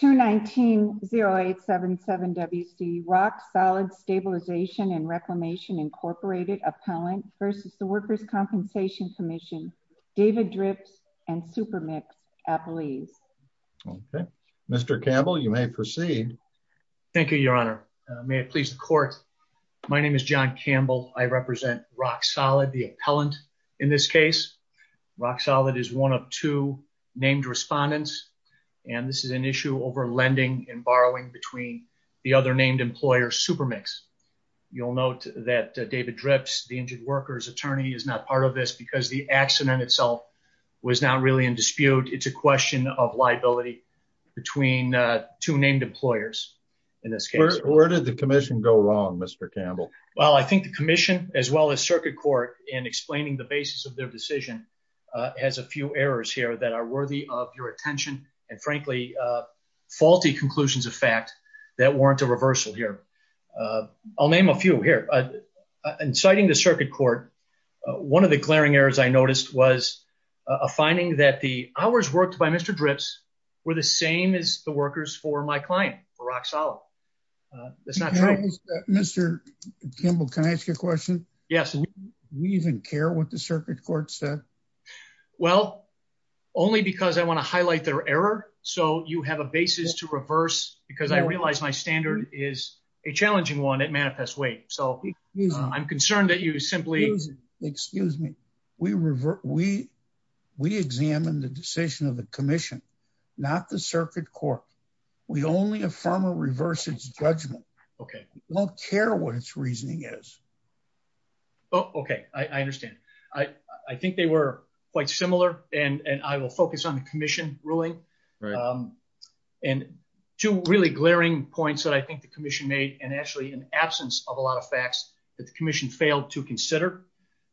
219-0877-WC, Rock Solid Stabilization and Reclamation, Inc. Appellant v. The Workers' Compensation Commission, David Drips and Supermix Appellees. Okay, Mr. Campbell, you may proceed. Thank you, Your Honor. May it please the Court, my name is John Campbell. I represent Rock Solid, the appellant in this case. Rock Solid is one of two named respondents, and this is an issue over lending and borrowing between the other named employer, Supermix. You'll note that David Drips, the injured workers' attorney, is not part of this because the accident itself was not really in dispute. It's a question of liability between two named employers in this case. Where did the commission go wrong, Mr. Campbell? Well, I think the commission, as well as circuit court, in explaining the basis of their decision, has a few errors here that are worthy of your attention, and frankly, faulty conclusions of fact that warrant a reversal here. I'll name a few here. In citing the circuit court, one of the glaring errors I noticed was a finding that the hours worked by Mr. Drips were the same as the workers for my client, for Rock Solid. That's not true. Mr. Campbell, can I ask you a question? Yes. Do we even care what the circuit court said? Well, only because I want to highlight their error, so you have a basis to reverse, because I realize my standard is a challenging one at Manifest Weight, so I'm concerned that you simply... Excuse me. We examine the decision of the commission, not the circuit court. We only affirm or reverse its judgment. We don't care what its reasoning is. Okay. I understand. I think they were quite similar, and I will focus on the commission ruling. Two really glaring points that I think the commission made, and actually in absence of a lot of facts, that the commission failed to consider,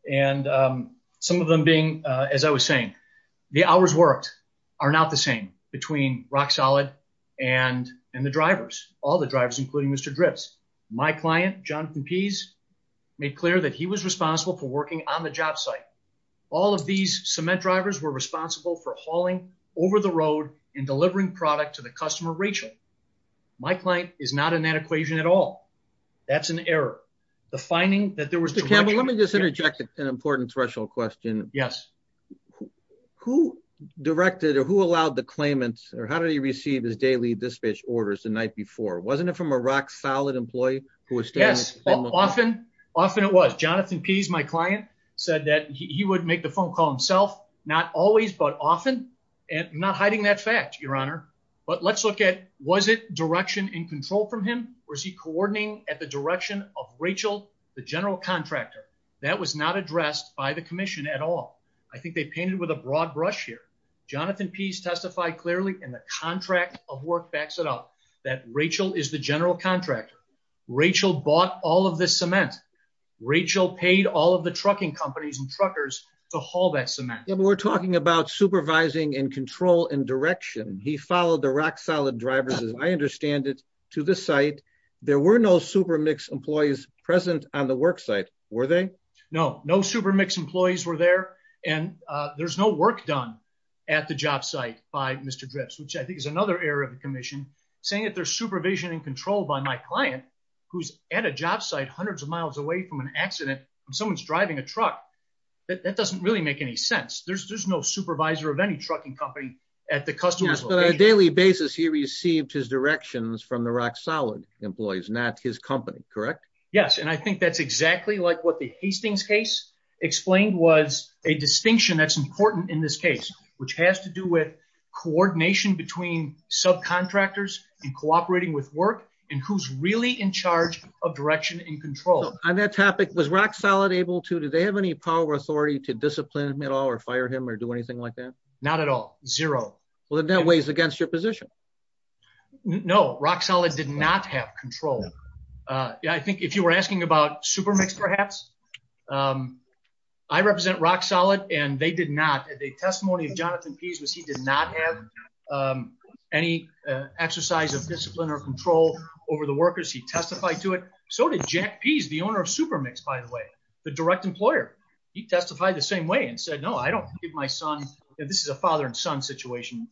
and some of them being, as I was saying, the hours worked are not the same between Rock Solid and the drivers, all the drivers, including Mr. Drips. My client, Jonathan Pease, made clear that he was responsible for working on the job site. All of these cement drivers were responsible for hauling over the road and delivering product to the customer, Rachel. My client is not in that equation at all. That's an error. The finding that there was... Mr. Campbell, let me just interject an important threshold question. Yes. Who directed, or who allowed the claimants, or how did he receive his daily dispatch orders the night before? Wasn't it from a Rock Solid employee who was... Yes. Often, often it was. Jonathan Pease, my client, said that he would make the phone call himself, not always, but often, and I'm not hiding that fact, your honor, but let's look at, was it direction in control from him, or is he coordinating at the direction of Rachel, the general contractor? That was not addressed by the commission at all. I think they painted with a broad brush here. Jonathan Pease testified clearly, and the contract of work backs it up, that Rachel is the general contractor. Rachel bought all of this cement. Rachel paid all of the trucking companies and truckers to haul that cement. Yeah, but we're talking about supervising and control and direction. He followed the Rock Solid drivers, as I understand it, to the site. There were no SuperMix employees present on the work site, were they? No, no SuperMix employees were there, and there's no work done at the job site by Mr. Dripps, which I think is another error of the commission, saying that there's supervision and control by my client, who's at a job site hundreds of miles away from an accident, and someone's driving a truck. That doesn't really make any sense. There's no supervisor of any trucking company at the customer's location. Daily basis, he received his directions from the Rock Solid employees, not his company, correct? Yes, and I think that's exactly like what the Hastings case explained, was a distinction that's important in this case, which has to do with coordination between subcontractors and cooperating with work, and who's really in charge of direction and control. On that topic, was Rock Solid able to, did they have any power or authority to discipline him at all, or fire him, or do anything like that? Not at all, zero. Well, then that weighs against your position. No, Rock Solid did not have control. I think if you were asking about SuperMix, perhaps, I represent Rock Solid, and they did not. The testimony of Jonathan Pease was he did not have any exercise of discipline or control over the workers. He testified to it. So did Jack Pease, the owner of SuperMix, by the way, the direct employer. He testified the same way, and said, I don't give my son, this is a father and son situation,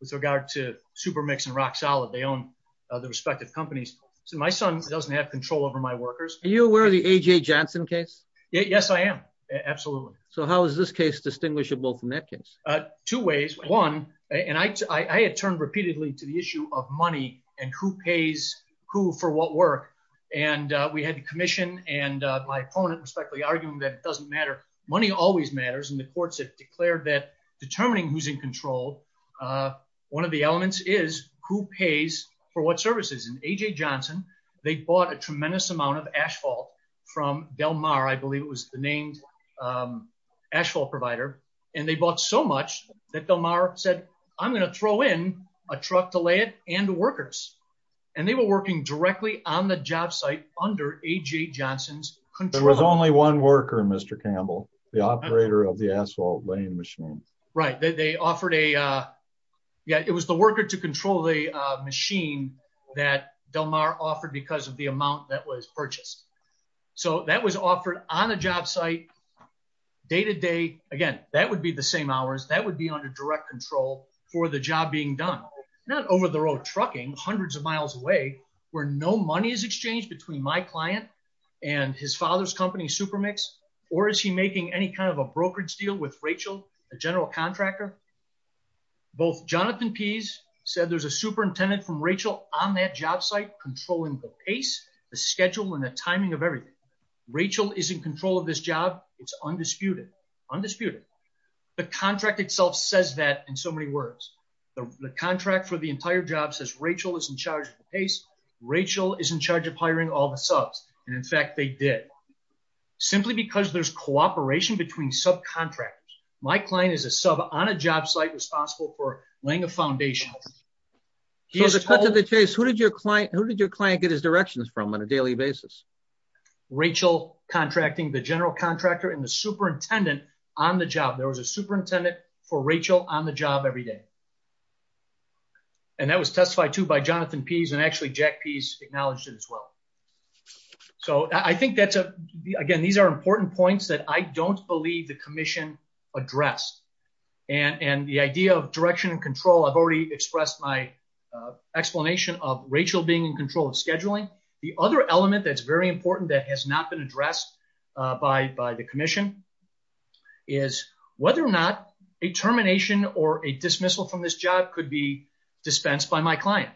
with regard to SuperMix and Rock Solid. They own the respective companies. So my son doesn't have control over my workers. Are you aware of the A.J. Johnson case? Yes, I am. Absolutely. So how is this case distinguishable from that case? Two ways. One, and I had turned repeatedly to the issue of money, and who pays who for what work, and we had to commission, and my opponent respectfully arguing that it doesn't matter. Money always matters. And the courts have declared that determining who's in control, one of the elements is who pays for what services. And A.J. Johnson, they bought a tremendous amount of asphalt from Del Mar. I believe it was the named asphalt provider. And they bought so much that Del Mar said, I'm going to throw in a truck to lay it and the workers. And they were working directly on the job site under A.J. Johnson's control. There was only one worker, Mr. Campbell, the operator of the asphalt laying machine. Right. It was the worker to control the machine that Del Mar offered because of the amount that was purchased. So that was offered on a job site, day to day. Again, that would be the same hours, that would be under direct control for the job being done. Not over the road trucking, hundreds of miles away where no money is exchanged between my client and his father's company, Supermix, or is he making any kind of a brokerage deal with Rachel, a general contractor? Both Jonathan Pease said there's a superintendent from Rachel on that job site controlling the pace, the schedule and the timing of everything. Rachel is in control of this job. It's undisputed. Undisputed. The contract itself says that in so many words. The contract for the entire job says Rachel is in charge of the pace. Rachel is in charge of hiring all the subs. And in fact, they did. Simply because there's cooperation between subcontractors. My client is a sub on a job site responsible for laying a foundation. So to cut to the chase, who did your client get his directions from on a daily basis? Rachel contracting the general contractor and the superintendent on the job. There was a superintendent for Rachel on the job every day. And that was testified to by Jonathan Pease and actually Jack Pease acknowledged it as well. So I think that's a, again, these are important points that I don't believe the commission addressed. And the idea of direction and control, I've already expressed my explanation of Rachel being in control of scheduling. The other element that's very important that has not been addressed by the commission is whether or not a termination or a dismissal from this job could be dispensed by my client.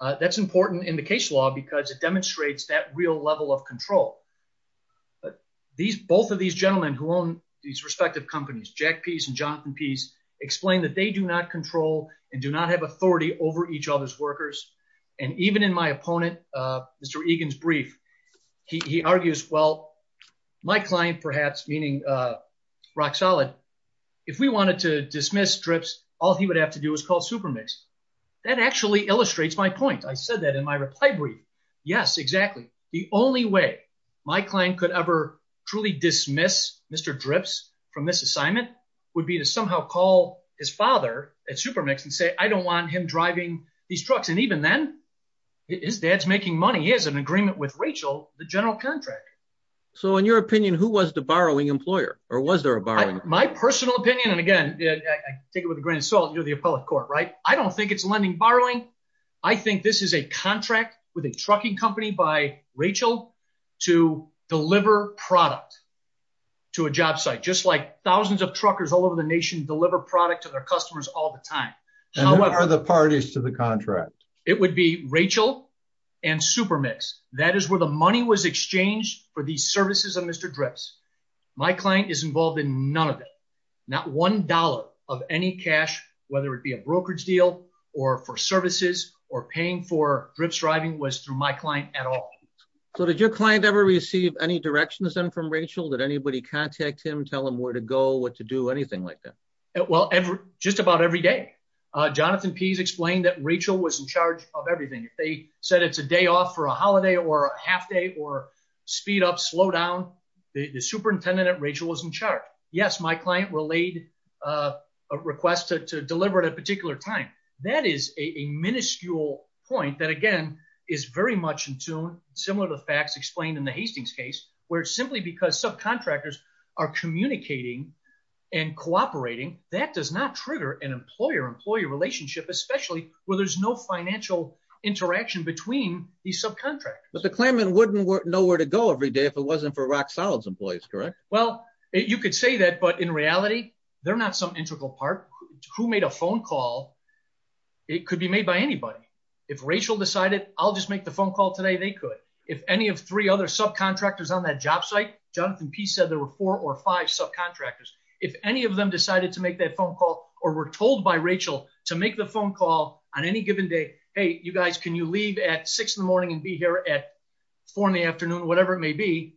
That's important in the case law because it demonstrates that real level of control. These both of these gentlemen who own these respective companies, Jack Pease and Jonathan Pease explained that they do not control and do not have authority over each other's My client, perhaps meaning Rock Solid, if we wanted to dismiss DRIPS, all he would have to do is call Supermix. That actually illustrates my point. I said that in my reply brief. Yes, exactly. The only way my client could ever truly dismiss Mr. DRIPS from this assignment would be to somehow call his father at Supermix and say, I don't want him driving these trucks. And even then, his dad's making money. He has an agreement with Rachel, the general contractor. So in your opinion, who was the borrowing employer or was there a borrowing? My personal opinion, and again, I take it with a grain of salt, you're the appellate court, right? I don't think it's lending borrowing. I think this is a contract with a trucking company by Rachel to deliver product to a job site, just like thousands of truckers all over the nation deliver product to their customers all the time. And who are the parties to the contract? It would be Rachel and Supermix. That is where the money was exchanged for the services of Mr. DRIPS. My client is involved in none of it. Not $1 of any cash, whether it be a brokerage deal or for services or paying for DRIPS driving was through my client at all. So did your client ever receive any directions then from Rachel? Did anybody contact him, tell him where to go, what to do, anything like that? Well, just about every day. Jonathan Pease explained that Rachel was in charge of everything. If they said it's a day off for a holiday or a half day or speed up, slow down, the superintendent at Rachel was in charge. Yes, my client relayed a request to deliver at a particular time. That is a minuscule point that again, is very much in tune, similar to facts explained in the that does not trigger an employer-employee relationship, especially where there's no financial interaction between these subcontractors. But the claimant wouldn't know where to go every day if it wasn't for Rock Solid's employees, correct? Well, you could say that, but in reality, they're not some integral part. Who made a phone call? It could be made by anybody. If Rachel decided, I'll just make the phone call today, they could. If any of three other subcontractors on that job site, Jonathan Pease said there were four or five subcontractors. If any of them decided to make that phone call or were told by Rachel to make the phone call on any given day, hey, you guys, can you leave at six in the morning and be here at four in the afternoon, whatever it may be,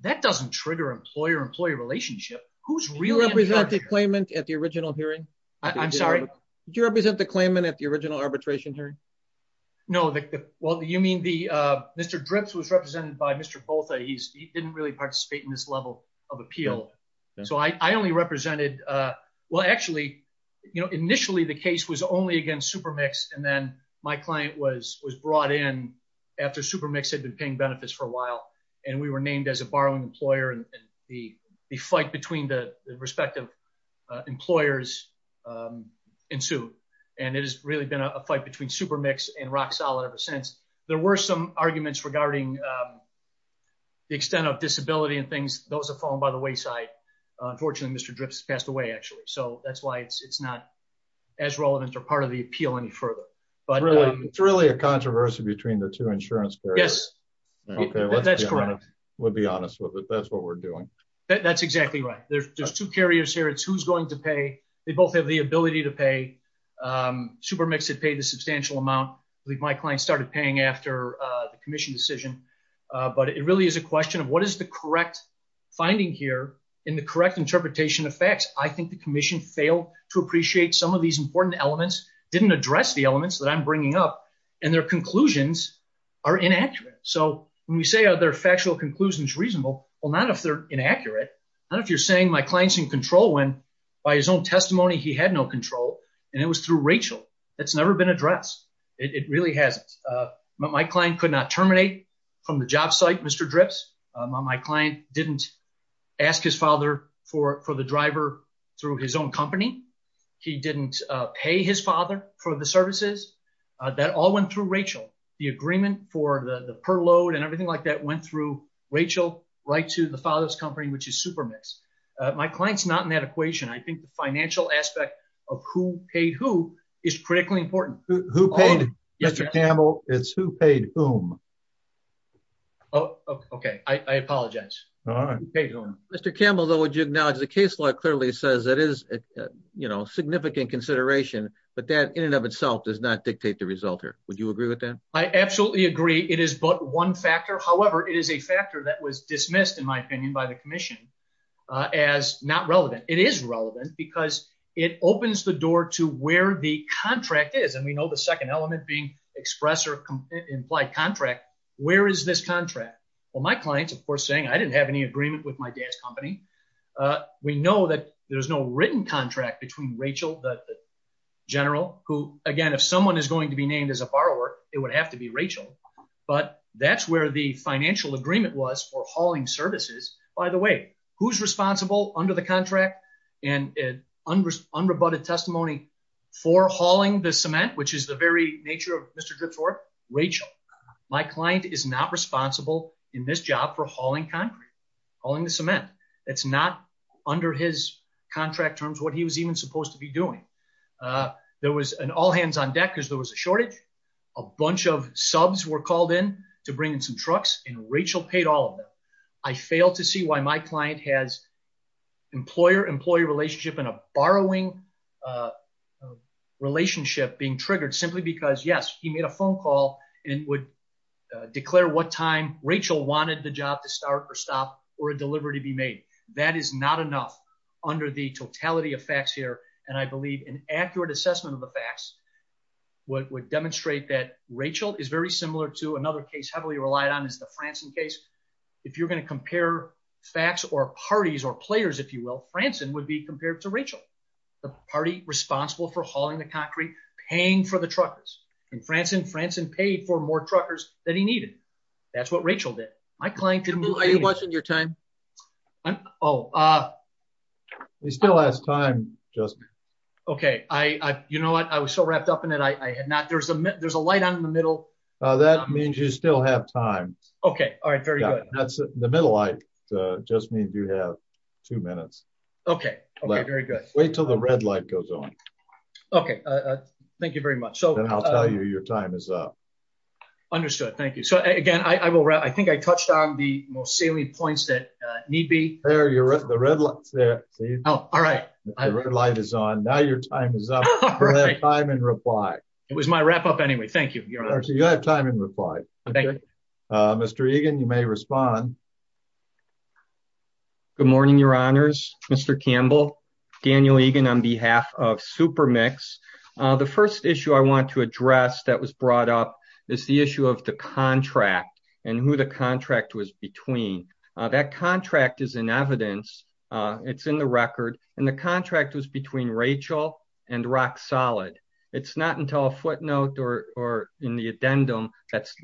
that doesn't trigger employer-employee relationship. Who's really representing the claimant at the original hearing? I'm sorry? Do you represent the claimant at the original arbitration hearing? No. Well, you mean the Mr. Dripps was represented by Mr. Botha. He didn't really participate in this level of appeal. So I only represented well, actually, initially the case was only against Supermix. And then my client was brought in after Supermix had been paying benefits for a while. And we were named as a borrowing employer and the fight between the respective employers ensued. And it has really been a fight between Supermix and Rock Solid ever since. There were some arguments regarding the extent of disability and things. Those have fallen by the wayside. Unfortunately, Mr. Dripps passed away, actually. So that's why it's not as relevant or part of the appeal any further. But it's really a controversy between the two insurance carriers. Yes. That's correct. We'll be honest with it. That's what we're doing. That's exactly right. There's two carriers here. It's who's going to pay. They both have the ability to pay. Supermix had paid a substantial amount. I believe my client started paying after the commission decision. But it really is a question of what is the correct finding here in the correct interpretation of facts. I think the commission failed to appreciate some of these important elements, didn't address the elements that I'm bringing up, and their conclusions are inaccurate. So when we say are their factual conclusions reasonable? Well, not if they're inaccurate. Not if you're saying my client's in control when by his own testimony, he had no control. And it was through Rachel. That's never been addressed. It really hasn't. My client could not terminate from the job site, Mr. Dripps. My client didn't ask his father for the driver through his own company. He didn't pay his father for the services. That all went through Rachel. The agreement for the per load and everything like that went through Rachel right to the father's company, which is Supermix. My client's not in that equation. I is critically important. Who paid Mr. Campbell is who paid whom? Oh, okay. I apologize. All right. Mr. Campbell, though, would you acknowledge the case law clearly says that is, you know, significant consideration, but that in and of itself does not dictate the result here. Would you agree with that? I absolutely agree. It is but one factor. However, it is a factor that was dismissed, in my opinion, by the commission as not relevant. It is relevant because it opens the door to where the contract is. And we know the second element being express or implied contract. Where is this contract? Well, my clients, of course, saying I didn't have any agreement with my dad's company. We know that there's no written contract between Rachel, the general who again, if someone is going to be named as a borrower, it would have to be Rachel. But that's where the financial agreement was for hauling services. By the way, who's unrebutted testimony for hauling the cement, which is the very nature of Mr. Drip's work? Rachel. My client is not responsible in this job for hauling concrete, hauling the cement. It's not under his contract terms what he was even supposed to be doing. There was an all hands on deck because there was a shortage. A bunch of subs were called in to bring in some trucks and Rachel paid all of them. I fail to see why my client has employer-employee relationship in a borrowing relationship being triggered simply because, yes, he made a phone call and would declare what time Rachel wanted the job to start or stop or a delivery to be made. That is not enough under the totality of facts here. And I believe an accurate assessment of the facts would demonstrate that Rachel is very similar to another case heavily relied on is the Franson case. If you're going to compare facts or parties or players, if you will, Franson would be compared to Rachel, the party responsible for hauling the concrete, paying for the truckers. And Franson, Franson paid for more truckers that he needed. That's what Rachel did. My client didn't. Are you watching your time? Oh, he still has time, Joseph. OK, I you know what? I was so wrapped up in it. I had not. There's a there's a light on in the middle. That means you still have time. OK. All right. Very good. That's the middle. I just need to have two minutes. OK. Very good. Wait till the red light goes on. OK. Thank you very much. So I'll tell you your time is up. Understood. Thank you. So, again, I will. I think I touched on the most salient points that need be there. You're at the red light there. Oh, all right. Light is on now. Your time is up. Time and reply. It was my wrap up anyway. Thank you. You have time and reply. Thank you, Mr. Egan. You may respond. Good morning, your honors. Mr. Campbell, Daniel Egan on behalf of Super Mix. The first issue I want to address that was brought up is the issue of the contract and who the contract was between. That contract is in evidence. It's in the record. And the contract was between Rachel and Rock Solid. It's not until a footnote or in the addendum that's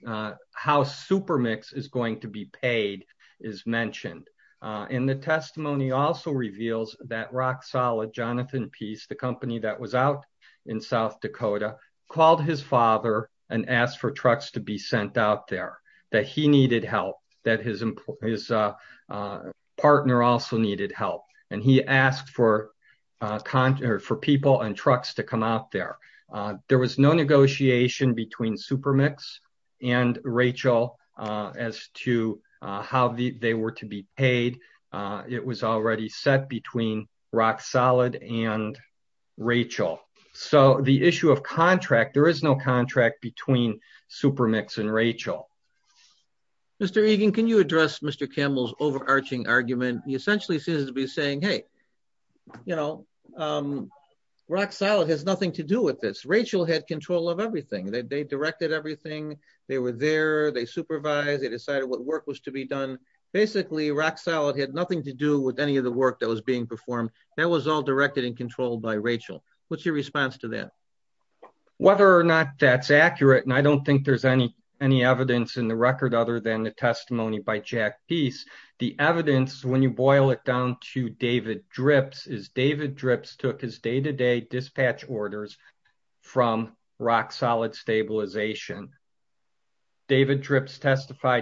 how Super Mix is going to be paid is mentioned. And the testimony also reveals that Rock Solid, Jonathan Peace, the company that was out in South Dakota, called his father and asked for trucks to be sent out there, that he needed help, that his partner also needed help. And he asked for people and trucks to come out there. There was no negotiation between Super Mix and Rachel as to how they were to be paid. It was already set between Rock Solid and Rachel. So the issue of contract, there is no contract between Super Mix and Rachel. Mr. Egan, can you address Mr. Campbell's overarching argument? He essentially seems to be saying, hey, you know, Rock Solid has nothing to do with this. Rachel had control of everything. They directed everything. They were there. They supervised. They decided what work was to be done. Basically, Rock Solid had nothing to do with any of the work that was being performed. That was all directed and controlled by Rachel. What's your response to that? Whether or not that's accurate, and I don't think there's any evidence in the record other than the testimony by Jack Peace, the evidence, when you boil it down to David Drips, is David Drips testified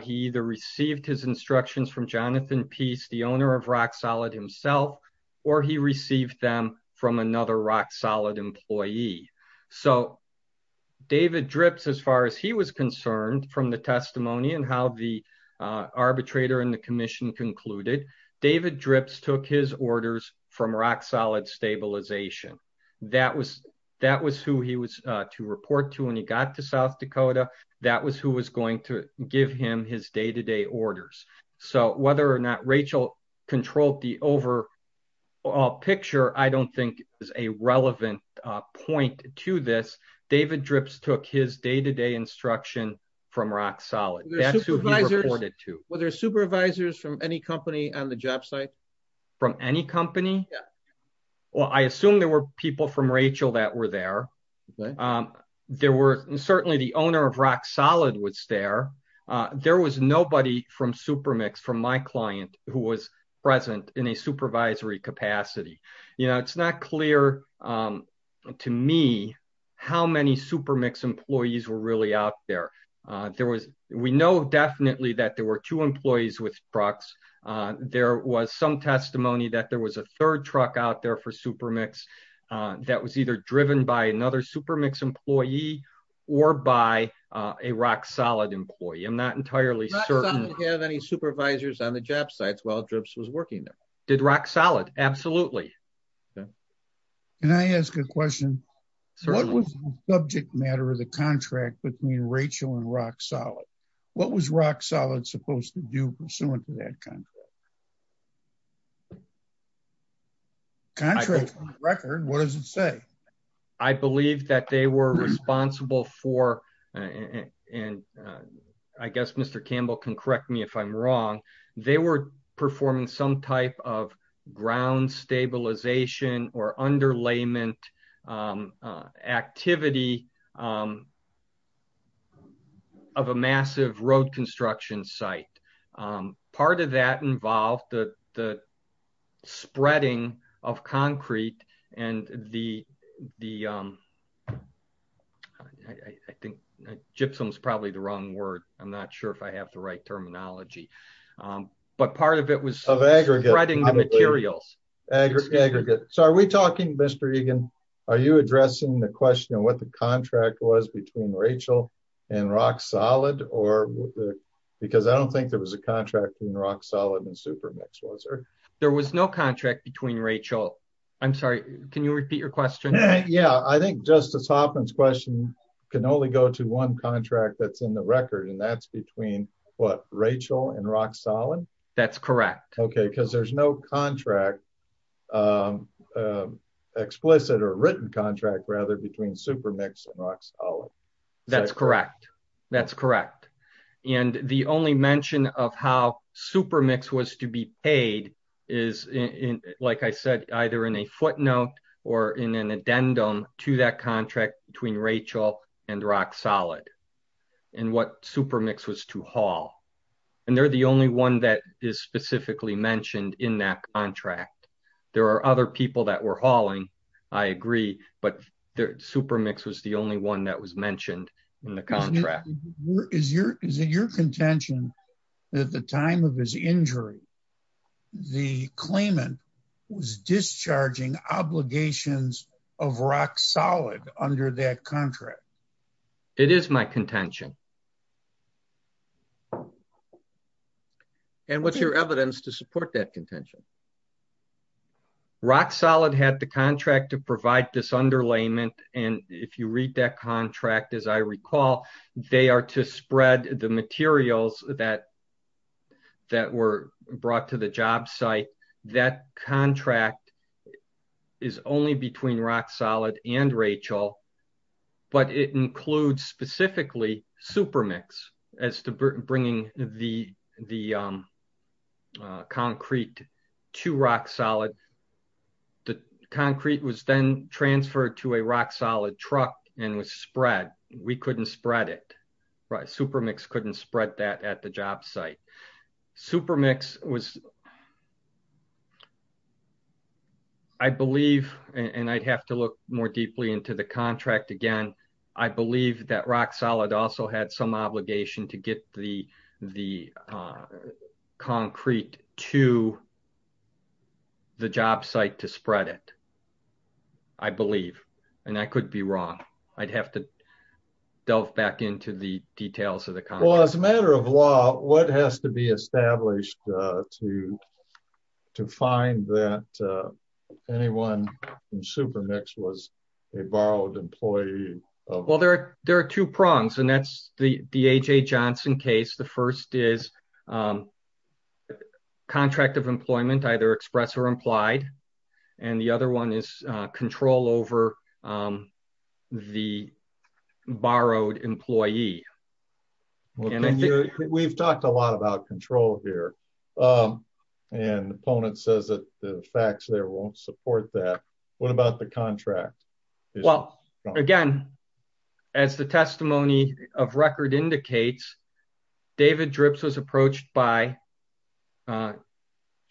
he either received his instructions from Jonathan Peace, the owner of Rock Solid himself, or he received them from another Rock Solid employee. So David Drips, as far as he was concerned from the testimony and how the arbitrator and the commission concluded, David Drips took his orders from Rock Solid Stabilization. That was who he was to report to when he got to South Dakota. That was who was going to give him his day-to-day orders. So whether or not Rachel controlled the overall picture, I don't think is a relevant point to this. David Drips took his day-to-day instruction from Rock Solid. That's who he reported to. Were there supervisors from any company on the job site? From any company? Well, I assume there were people from Rachel that were there. Certainly the owner of Rock Solid was there. There was nobody from Supermix, from my client, who was present in a supervisory capacity. You know, it's not clear to me how many Supermix employees were really out there. We know definitely that there were two employees with trucks. There was some testimony that there was a third truck out there for Supermix that was either driven by another Supermix employee or by a Rock Solid employee. I'm not entirely certain. Did Rock Solid have any supervisors on the job sites while Drips was working there? Did Rock Solid? Absolutely. Can I ask a question? What was the subject matter of the contract between Rachel and Rock Solid? What was Rock Solid supposed to do pursuant to that contract? Contract? On the record, what does it say? I believe that they were responsible for, and I guess Mr. Campbell can correct me if I'm wrong, they were performing some type of ground stabilization or underlayment activity of a massive road construction site. Part of that involved the spreading of concrete and the, I think gypsum is probably the wrong word. I'm not sure if I have the right terminology, but part of it was spreading the materials. Aggregate. So are we talking, Mr. Egan, are you addressing the question of what the contract was between Rachel and Rock Solid? Because I don't think there was a contract between Rock Solid and Supermix, was there? There was no contract between Rachel. I'm sorry, can you repeat your question? Yeah, I think Justice Hoffman's question can only go to one contract that's in the record, and that's between what, Rachel and Rock Solid? That's correct. Okay, because there's no contract, explicit or written contract, rather, between Supermix and Rock Solid. That's correct. That's correct. And the only mention of how Supermix was to be paid is, like I said, either in a footnote or in an addendum to that contract between Rachel and Rock Solid, and what Supermix was to haul. And they're the only one that is specifically mentioned in that contract. There are other people that were hauling, I agree, but Supermix was the only one that was mentioned in the contract. Is it your contention that at the time of his injury, the claimant was discharging obligations of Rock Solid under that contract? It is my contention. And what's your evidence to support that contention? Rock Solid had the contract to provide this underlayment, and if you read that contract, as I recall, they are to spread the materials that were brought to the job site. That contract is only between Rock Solid and Rachel, but it includes specifically Supermix as to bringing the concrete to Rock Solid. The concrete was then transferred to a Rock Solid truck and was spread. We couldn't spread it. Supermix couldn't spread that at the job site. Supermix was... I believe, and I'd have to look more deeply into the contract again, I believe that Rock Solid also had some obligation to get the concrete to the job site to spread it. I believe, and I could be wrong. I'd have to delve back into the details of the contract. Well, as a matter of law, what has to be established to find that anyone from Supermix was a borrowed employee of... Well, there are two prongs, and that's the A.J. Johnson case. The first is contract of employment, either express or implied, and the other one is control over the borrowed employee. We've talked a lot about control here, and the opponent says that the facts there won't support that. What about the contract? Well, again, as the testimony of record indicates, David Drips was approached by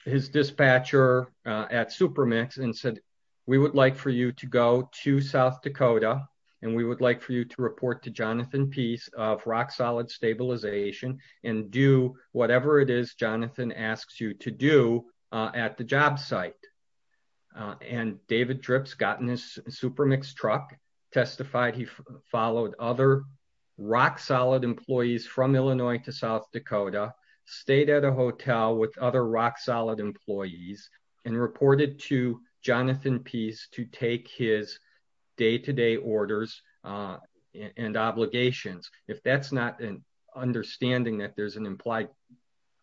his dispatcher at Supermix and said, we would like for you to go to South Dakota, and we would like for you to report to Jonathan Peace of Rock Solid Stabilization and do whatever it is Jonathan asks you to do at the job site. And David Drips got in his Supermix truck, testified he followed other Rock Solid employees from Illinois to South Dakota, stayed at a hotel with other Rock Solid employees, and reported to Jonathan Peace to take his day-to-day orders and obligations. If that's not understanding that there's an implied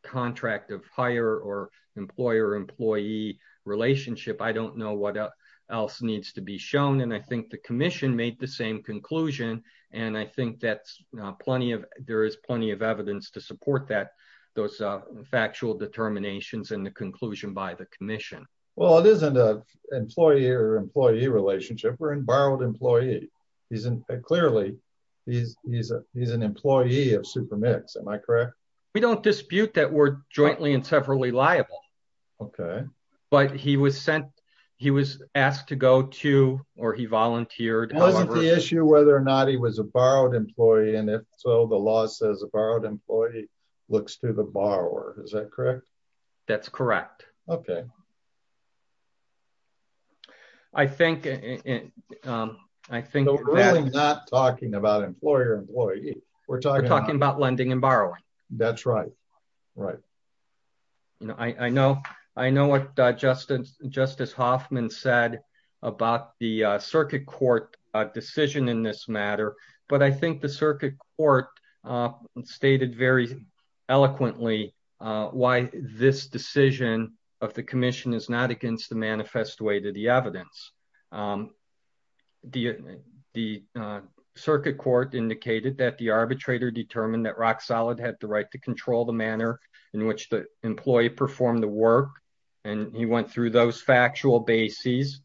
contract of hire or employer-employee relationship, I don't know what else needs to be shown. And I think the commission made the same conclusion, and I think there is plenty of evidence to support those factual determinations and the conclusion by the commission. Well, it isn't an employee-employee relationship. We're in borrowed employee. Clearly, he's an employee of Supermix, am I correct? We don't dispute that we're jointly and severally liable. But he was sent, he was asked to go to, or he volunteered. Wasn't the issue whether or not he was a borrowed employee, and if so, the law says a borrowed employee looks to the borrower, is that correct? That's correct. Okay. I think, I think... No, we're really not talking about employer-employee. We're talking about... We're talking about lending and borrowing. That's right. Right. You know, I know, I know what Justice Hoffman said about the circuit court decision in this of the commission is not against the manifest way to the evidence. The circuit court indicated that the arbitrator determined that RockSolid had the right to control the manner in which the employee performed the work, and he went through those factual bases.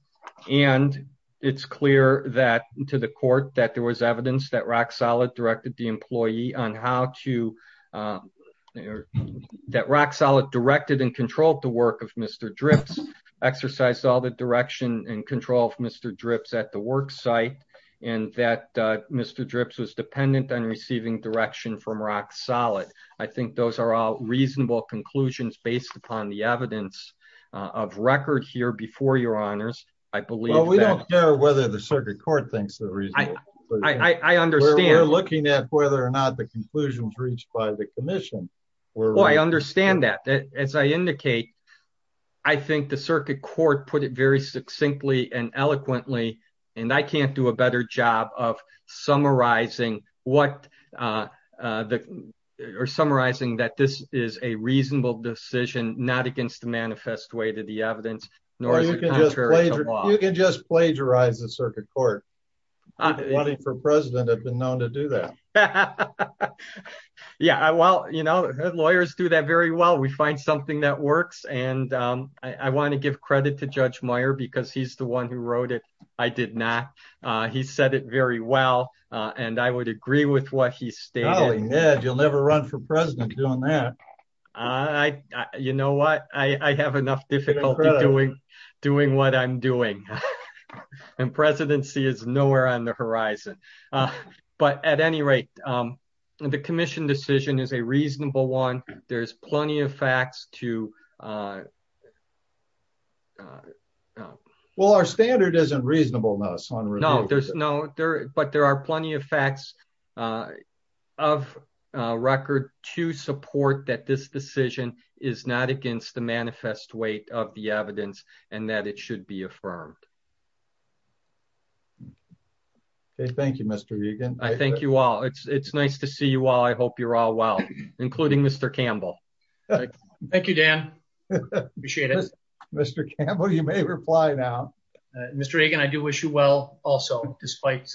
And it's clear that to the court that there was evidence that RockSolid directed the employee on how to, that RockSolid directed and controlled the work of Mr. Dripps, exercised all the direction and control of Mr. Dripps at the work site, and that Mr. Dripps was dependent on receiving direction from RockSolid. I think those are all reasonable conclusions based upon the evidence of record here before your honors. I believe that... Well, we don't care whether the circuit court thinks the reason... I understand... Whether or not the conclusions reached by the commission were... Well, I understand that. As I indicate, I think the circuit court put it very succinctly and eloquently, and I can't do a better job of summarizing that this is a reasonable decision, not against the manifest way to the evidence, nor is it contrary to law. You can just plagiarize the circuit court. Running for president, I've been known to do that. Yeah, well, lawyers do that very well. We find something that works. And I want to give credit to Judge Meyer because he's the one who wrote it. I did not. He said it very well, and I would agree with what he stated. Golly, Ned, you'll never run for president doing that. You know what? I have enough difficulty doing what I'm doing. And presidency is nowhere on the horizon. But at any rate, the commission decision is a reasonable one. There's plenty of facts to... Well, our standard isn't reasonableness on review. No, there's no... But there are plenty of facts of record to support that this decision is not against the manifest weight of the evidence and that it should be affirmed. Okay. Thank you, Mr. Egan. I thank you all. It's nice to see you all. I hope you're all well, including Mr. Campbell. Thank you, Dan. Appreciate it. Mr. Campbell, you may reply now. Mr. Egan, I do wish you well also, despite...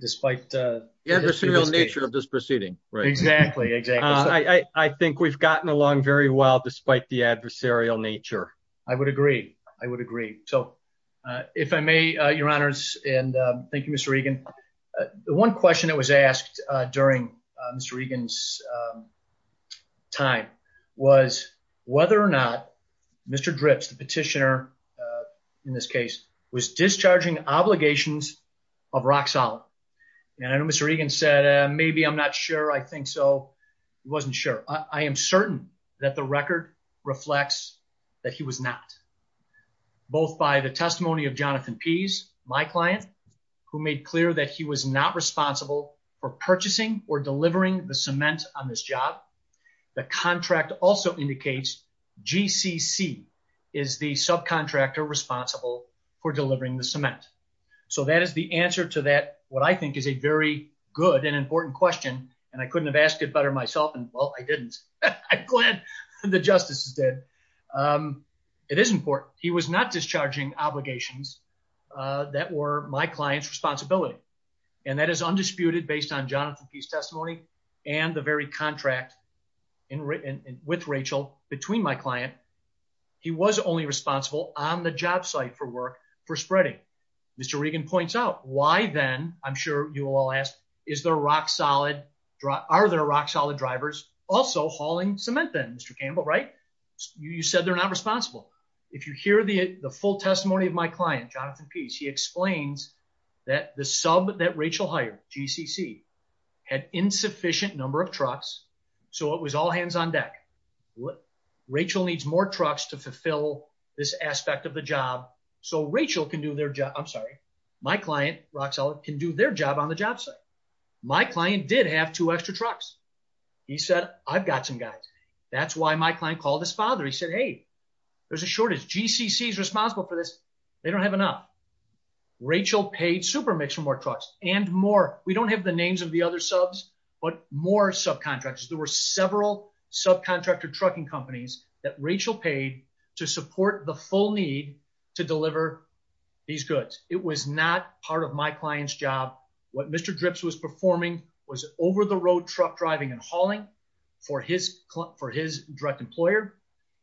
Despite the adversarial nature of this proceeding. Exactly. I think we've gotten along very well despite the adversarial nature. I would agree. I would agree. So, if I may, your honors, and thank you, Mr. Egan. The one question that was asked during Mr. Egan's time was whether or not Mr. Dripps, the petitioner in this case, was discharging obligations of rock solid. And I know Mr. Egan said, maybe I'm not sure. I think so. He wasn't sure. I am certain that the record reflects that he was not. Both by the testimony of Jonathan Pease, my client, who made clear that he was not responsible for purchasing or delivering the cement on this job. The contract also indicates GCC is the subcontractor responsible for delivering the cement. So, that is the answer to that, what I think is a very good and important question. And I couldn't have asked it better myself. And well, I didn't. I'm glad the justices did. It is important. He was not discharging obligations that were my client's responsibility. And that is undisputed based on Jonathan Pease testimony and the very contract with Rachel between my client. He was only responsible on the job site for work for spreading. Mr. Egan points out why then, I'm sure you will all ask, are there rock solid drivers also hauling cement then, Mr. Campbell, right? You said they're not responsible. If you hear the full testimony of my client, Jonathan Pease, he explains that the sub that Rachel hired, GCC, had insufficient number of trucks. So, it was all hands on deck. Well, Rachel needs more trucks to fulfill this aspect of the job. So, Rachel can do their job. I'm sorry. My client, rock solid, can do their job on the job site. My client did have two extra trucks. He said, I've got some guys. That's why my client called his father. He said, hey, there's a shortage. GCC is responsible for this. They don't have enough. Rachel paid Supermix for more trucks and more. We don't have the names of the other subs, but more subcontractors. There were several subcontractor trucking companies that Rachel paid to support the full need to deliver these goods. It was not part of my client's job. What Mr. Dripps was performing was over the road truck driving and hauling for his direct employer.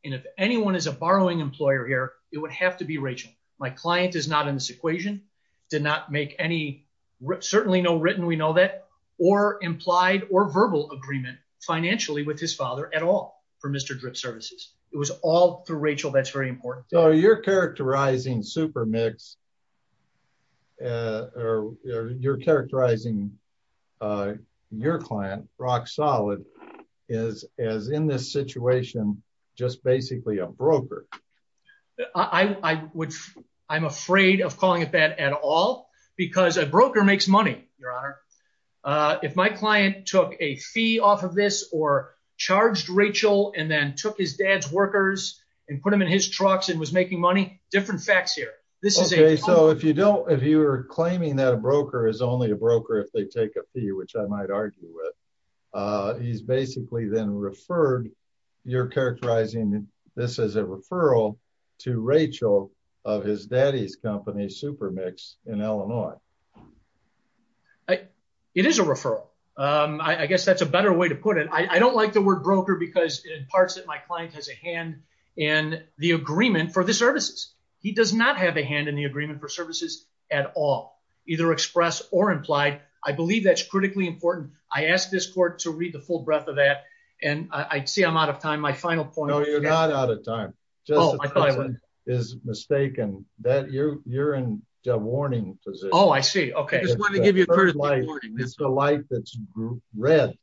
And if anyone is a borrowing employer here, it would have to be Rachel. My client is not in this equation, did not make any, certainly no written, we know that, or implied or verbal agreement financially with his father at all for Mr. Dripps services. It was all through Rachel. That's very important. So, you're characterizing Supermix, or you're characterizing your client, rock solid, as in this situation, just basically a broker. I'm afraid of calling it that at all, because a broker makes money, Your Honor. If my client took a fee off of this or charged Rachel and then took his dad's workers and put them in his trucks and was making money, different facts here. This is a- Okay, so if you don't, if you're claiming that a broker is only a broker if they take a fee, which I might argue with, he's basically then referred, you're characterizing this as a referral to Rachel of his daddy's company, Supermix, in Illinois. I, it is a referral. I guess that's a better way to put it. I don't like the word broker because it imparts that my client has a hand in the agreement for the services. He does not have a hand in the agreement for services at all, either express or implied. I believe that's critically important. I asked this court to read the full breadth of that, and I see I'm out of time. My final point- No, you're not out of time. Oh, I thought I was. Just the president is mistaken. You're in a warning position. Oh, I see. Okay. I just wanted to give you a personal warning. It's the light that's red.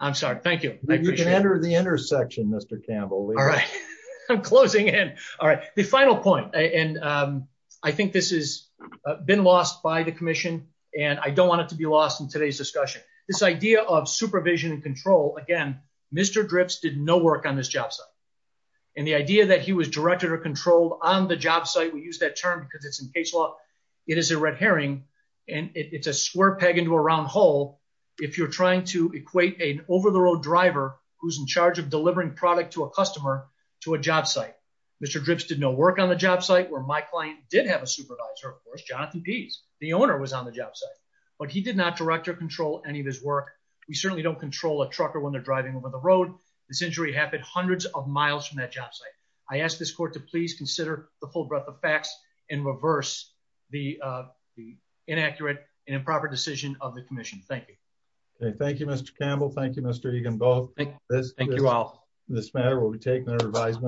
I'm sorry. Thank you. You can enter the intersection, Mr. Campbell. All right. I'm closing in. All right. The final point, and I think this has been lost by the commission, and I don't want it to be lost in today's discussion. This idea of supervision and control, again, Mr. Dripps did no work on this job site. And the idea that he was directed or controlled on the job site, we use that term because it's in case law, it is a red herring, and it's a square peg into a round hole if you're trying to equate an over-the-road driver, who's in charge of delivering product to a customer, to a job site. Mr. Dripps did no work on the job site, where my client did have a supervisor, of course, Jonathan Pease. The owner was on the job site. But he did not direct or control any of his work. We certainly don't control a trucker when they're driving over the road. This injury happened hundreds of miles from that job site. I ask this court to please consider the full breadth of facts and reverse the inaccurate and improper decision of the commission. Thank you. Thank you, Mr. Campbell. Thank you, Mr. Egan. Thank you all.